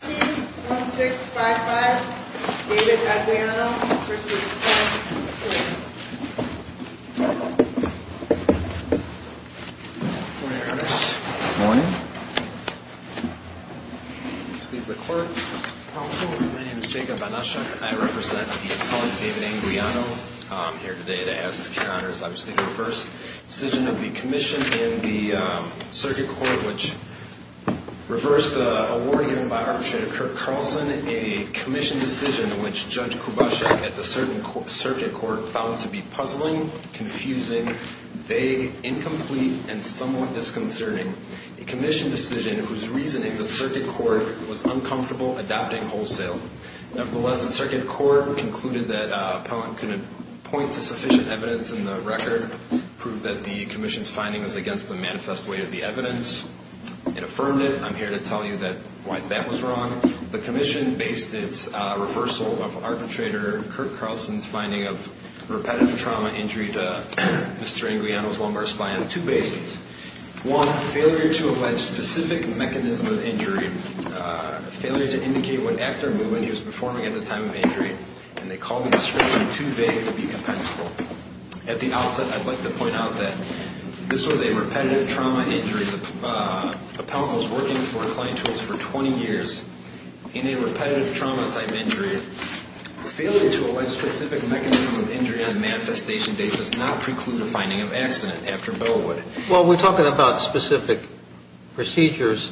1655 David Anguiano v. Klein Tools, Inc Good morning, Your Honor. Good morning. Please, the court. Counsel, my name is Jacob Anusha. I represent the appellant, David Anguiano. I'm here today to ask, Your Honor, as I was thinking of the first decision of the commission in the circuit court, which reversed the award given by arbitrator Kirk Carlson, a commission decision which Judge Kubashek at the circuit court found to be puzzling, confusing, vague, incomplete, and somewhat disconcerting. A commission decision whose reasoning the circuit court was uncomfortable adopting wholesale. Nevertheless, the circuit court concluded that appellant couldn't point to sufficient evidence in the record, proved that the commission's finding was against the manifest way of the evidence. It affirmed it. I'm here to tell you why that was wrong. The commission based its reversal of arbitrator Kirk Carlson's finding of repetitive trauma injury to Mr. Anguiano's lumbar spine on two bases. One, failure to allege specific mechanism of injury, failure to indicate what act or movement he was performing at the time of injury. And they called the description too vague to be compensable. At the outset, I'd like to point out that this was a repetitive trauma injury. The appellant was working for client tools for 20 years in a repetitive trauma type injury. Failure to allege specific mechanism of injury on manifestation date does not preclude the finding of accident after Bellwood. Well, we're talking about specific procedures.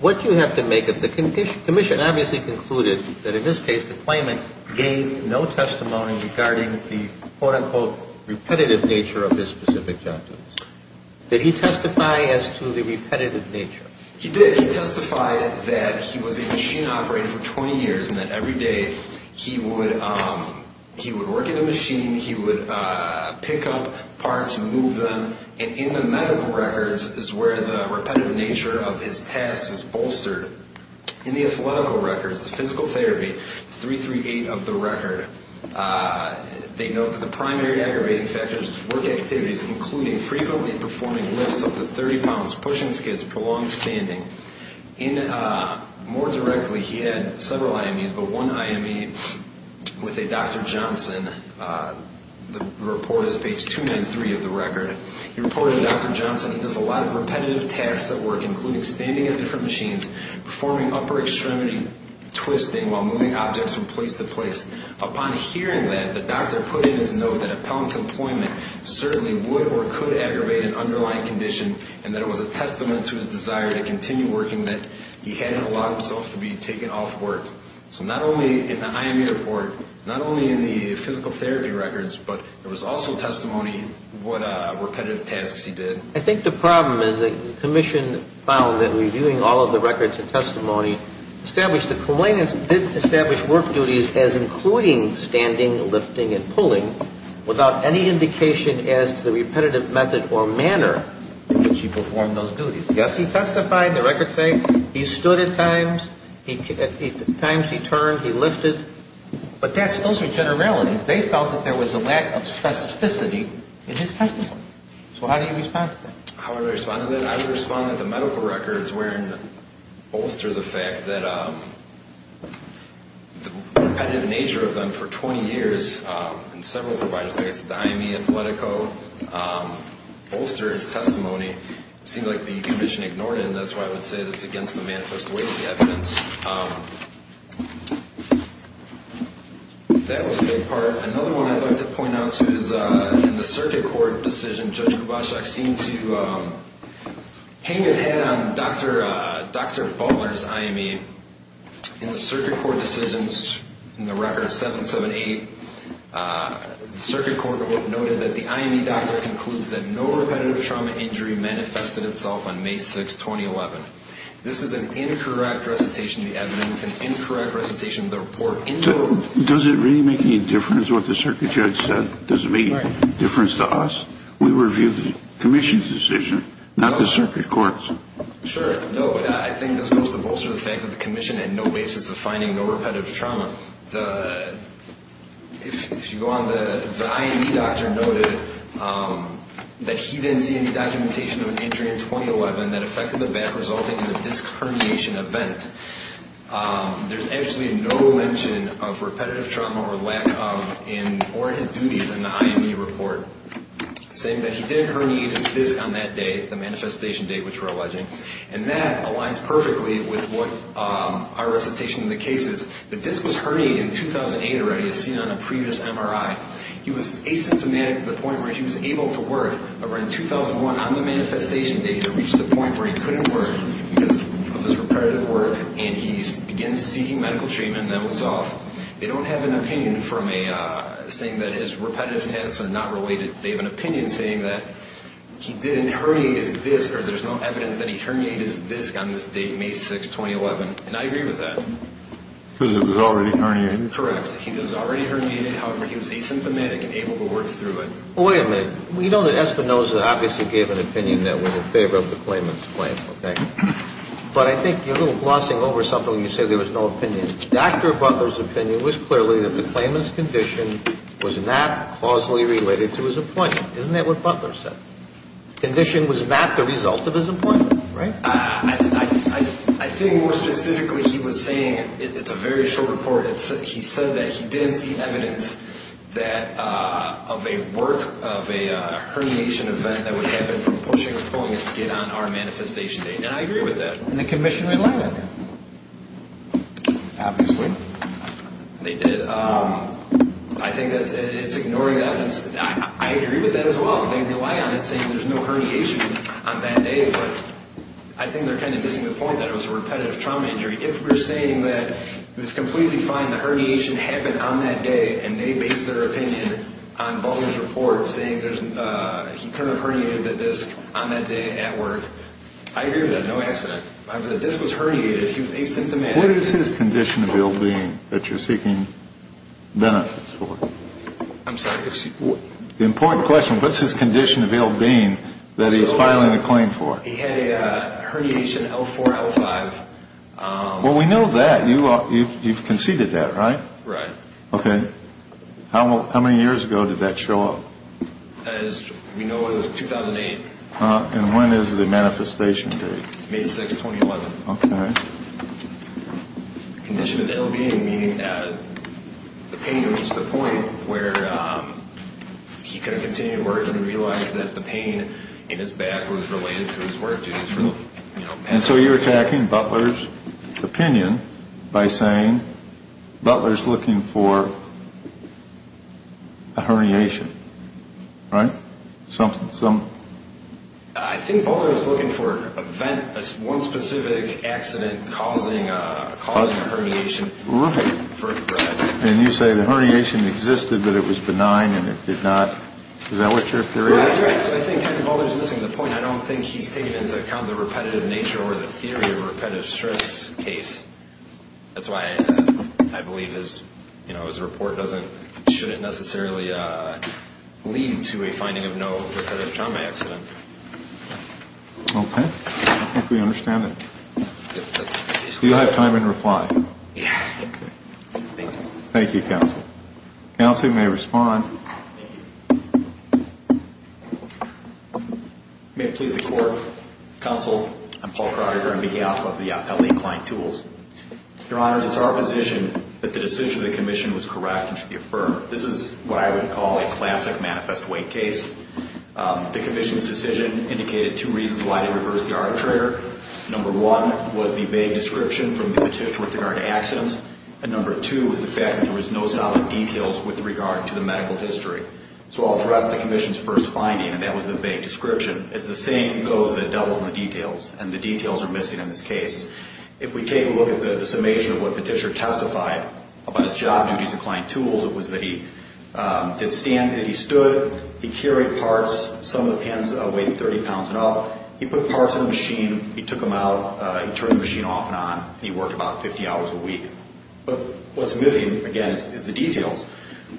What do you have to make of the commission? The commission obviously concluded that in this case the claimant gave no testimony regarding the quote-unquote repetitive nature of his specific job. Did he testify as to the repetitive nature? He did. He testified that he was a machine operator for 20 years and that every day he would work in a machine. He would pick up parts and move them. And in the medical records is where the repetitive nature of his tasks is bolstered. In the athletical records, the physical therapy, it's 338 of the record. They note that the primary aggravating factors were activities including frequently performing lifts up to 30 pounds, pushing skids, prolonged standing. More directly, he had several IMEs, but one IME with a Dr. Johnson. The report is page 293 of the record. He reported to Dr. Johnson he does a lot of repetitive tasks at work, including standing at different machines, performing upper extremity twisting while moving objects from place to place. Upon hearing that, the doctor put in his note that appellant's employment certainly would or could aggravate an underlying condition and that it was a testament to his desire to continue working that he hadn't allowed himself to be taken off work. So not only in the IME report, not only in the physical therapy records, but there was also testimony what repetitive tasks he did. I think the problem is the commission found that reviewing all of the records and testimony established that complainants didn't establish work duties as including standing, lifting, and pulling without any indication as to the repetitive method or manner in which he performed those duties. Yes, he testified. The records say he stood at times. At times he turned. He lifted. But those are generalities. They felt that there was a lack of specificity in his testimony. So how do you respond to that? How do I respond to that? I would respond that the medical records bolster the fact that the repetitive nature of them for 20 years, and several providers, I guess the IME, Athletico, bolstered his testimony. It seemed like the commission ignored it, and that's why I would say that it's against the manifest weight of the evidence. That was a big part. Another one I'd like to point out, too, is in the circuit court decision, Judge Kubaszek seemed to hang his head on Dr. Baller's IME. In the circuit court decisions in the record 778, the circuit court noted that the IME doctor concludes that no repetitive trauma injury manifested itself on May 6, 2011. This is an incorrect recitation of the evidence, an incorrect recitation of the report. Does it really make any difference what the circuit judge said? Does it make a difference to us? We reviewed the commission's decision, not the circuit court's. Sure. No, but I think this goes to bolster the fact that the commission had no basis of finding no repetitive trauma. If you go on, the IME doctor noted that he didn't see any documentation of an injury in 2011 that affected the back, resulting in a disc herniation event. There's actually no mention of repetitive trauma or lack of in or in his duties in the IME report, saying that he did herniate his disc on that day, the manifestation date which we're alleging, and that aligns perfectly with what our recitation in the case is. The disc was herniated in 2008 already as seen on a previous MRI. He was asymptomatic to the point where he was able to work. And he begins seeking medical treatment and then was off. They don't have an opinion saying that his repetitive tests are not related. They have an opinion saying that he didn't herniate his disc or there's no evidence that he herniated his disc on this date, May 6, 2011, and I agree with that. Because it was already herniated? Correct. He was already herniated. However, he was asymptomatic and able to work through it. Well, wait a minute. We know that Espinoza obviously gave an opinion that was in favor of the claimant's claim, okay? But I think you're glossing over something when you say there was no opinion. Dr. Butler's opinion was clearly that the claimant's condition was not causally related to his appointment. Isn't that what Butler said? Condition was not the result of his appointment, right? I think more specifically he was saying, it's a very short report, he said that he didn't see evidence that of a work, of a herniation event that would happen from pushing or pulling a skid on our manifestation date. And I agree with that. And the commission didn't like that. Obviously. They did. I think it's ignoring that. I agree with that as well. They rely on it saying there's no herniation on that day, but I think they're kind of missing the point that it was a repetitive trauma injury. If we're saying that it was completely fine, the herniation happened on that day, and they base their opinion on Butler's report saying he could have herniated the disc on that day at work, I agree with that. No accident. The disc was herniated. He was asymptomatic. What is his condition of ill-being that you're seeking benefits for? I'm sorry? The important question, what's his condition of ill-being that he's filing a claim for? He had a herniation L4, L5. Well, we know that. You've conceded that, right? Right. Okay. How many years ago did that show up? As we know, it was 2008. And when is the manifestation date? May 6, 2011. Okay. Condition of ill-being meaning the pain reached the point where he could have continued work and realized that the pain in his back was related to his work duties. And so you're attacking Butler's opinion by saying Butler's looking for a herniation, right? I think Butler's looking for one specific accident causing a herniation. Right. And you say the herniation existed, but it was benign and it did not. Is that what your theory is? Right. So I think Butler's missing the point. I don't think he's taking into account the repetitive nature or the theory of repetitive stress case. That's why I believe his report shouldn't necessarily lead to a finding of no repetitive trauma accident. Okay. I think we understand it. Do you have time in reply? Okay. Thank you. Thank you, counsel. Counsel, you may respond. Thank you. May it please the court. Counsel, I'm Paul Kroger. I'm behalf of the L.A. Client Tools. Your Honors, it's our position that the decision of the commission was correct and should be affirmed. This is what I would call a classic manifest weight case. The commission's decision indicated two reasons why they reversed the arbitrator. Number one was the vague description from the petitioner with regard to accidents. And number two was the fact that there was no solid details with regard to the medical history. So I'll address the commission's first finding, and that was the vague description. It's the same goes that doubles in the details, and the details are missing in this case. If we take a look at the summation of what the petitioner testified about his job duties at Client Tools, it was that he did stand, that he stood, he carried parts. Some of the pins weighed 30 pounds and up. He put parts in the machine. He took them out. He turned the machine off and on. He worked about 50 hours a week. But what's missing, again, is the details.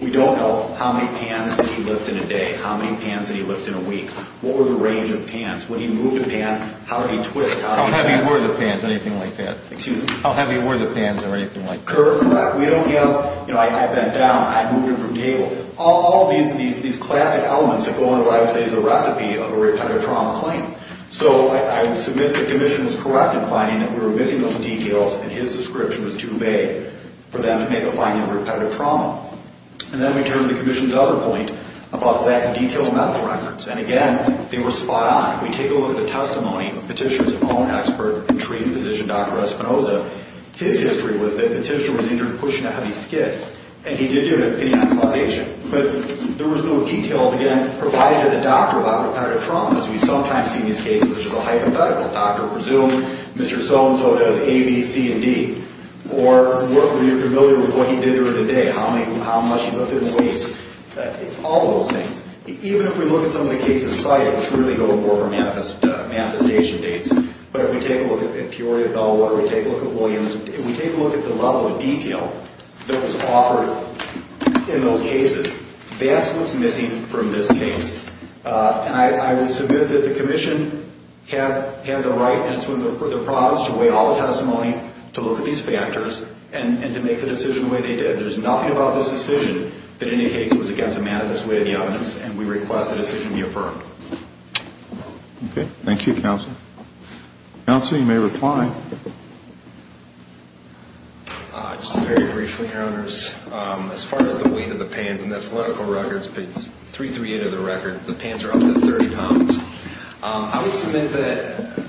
We don't know how many pans did he lift in a day, how many pans did he lift in a week. What were the range of pans? When he moved a pan, how did he twist? How heavy were the pans, anything like that? Excuse me? How heavy were the pans or anything like that? Correct. We don't have, you know, I bent down, I moved him from table. All these classic elements that go into what I would say is a recipe of a repetitive trauma claim. So I would submit the commission was correct in finding that we were missing those details and his description was too vague for them to make a finding of repetitive trauma. And then we turn to the commission's other point about lack of detailed medical records. And, again, they were spot on. If we take a look at the testimony of the petitioner's own expert and treating physician, Dr. Espinosa, his history was that the petitioner was injured pushing a heavy skid, and he did do an opinion on causation. But there was no details, again, provided to the doctor about repetitive trauma, as we sometimes see in these cases, which is a hypothetical. Doctor presumed Mr. So-and-so does A, B, C, and D. Or were you familiar with what he did during the day? How much he lifted weights? All those things. Even if we look at some of the cases cited, which really go more for manifestation dates, but if we take a look at Peoria Bellwater, we take a look at Williams, if we take a look at the level of detail that was offered in those cases, that's what's missing from this case. And I would submit that the commission had the right and it's within their prerogatives to weigh all the testimony, to look at these factors, and to make the decision the way they did. There's nothing about this decision that indicates it was against a manifest way of the evidence, and we request the decision be affirmed. Okay. Thank you, Counsel. Counsel, you may reply. Just very briefly, Your Honors. As far as the weight of the pans, and that's the medical records, page 338 of the record, the pans are up to 30 pounds. I would submit that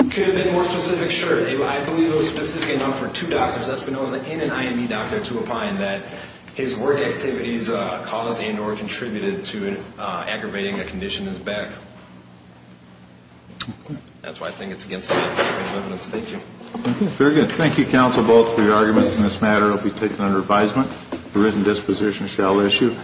it could have been a more specific shirt. I believe it was specific enough for two doctors, Espinosa and an IME doctor, to opine that his work activities caused and or contributed to aggravating a condition in his back. That's why I think it's against the evidence. Thank you. Very good. Thank you, Counsel, both for your arguments in this matter. It will be taken under advisement. The written disposition shall issue.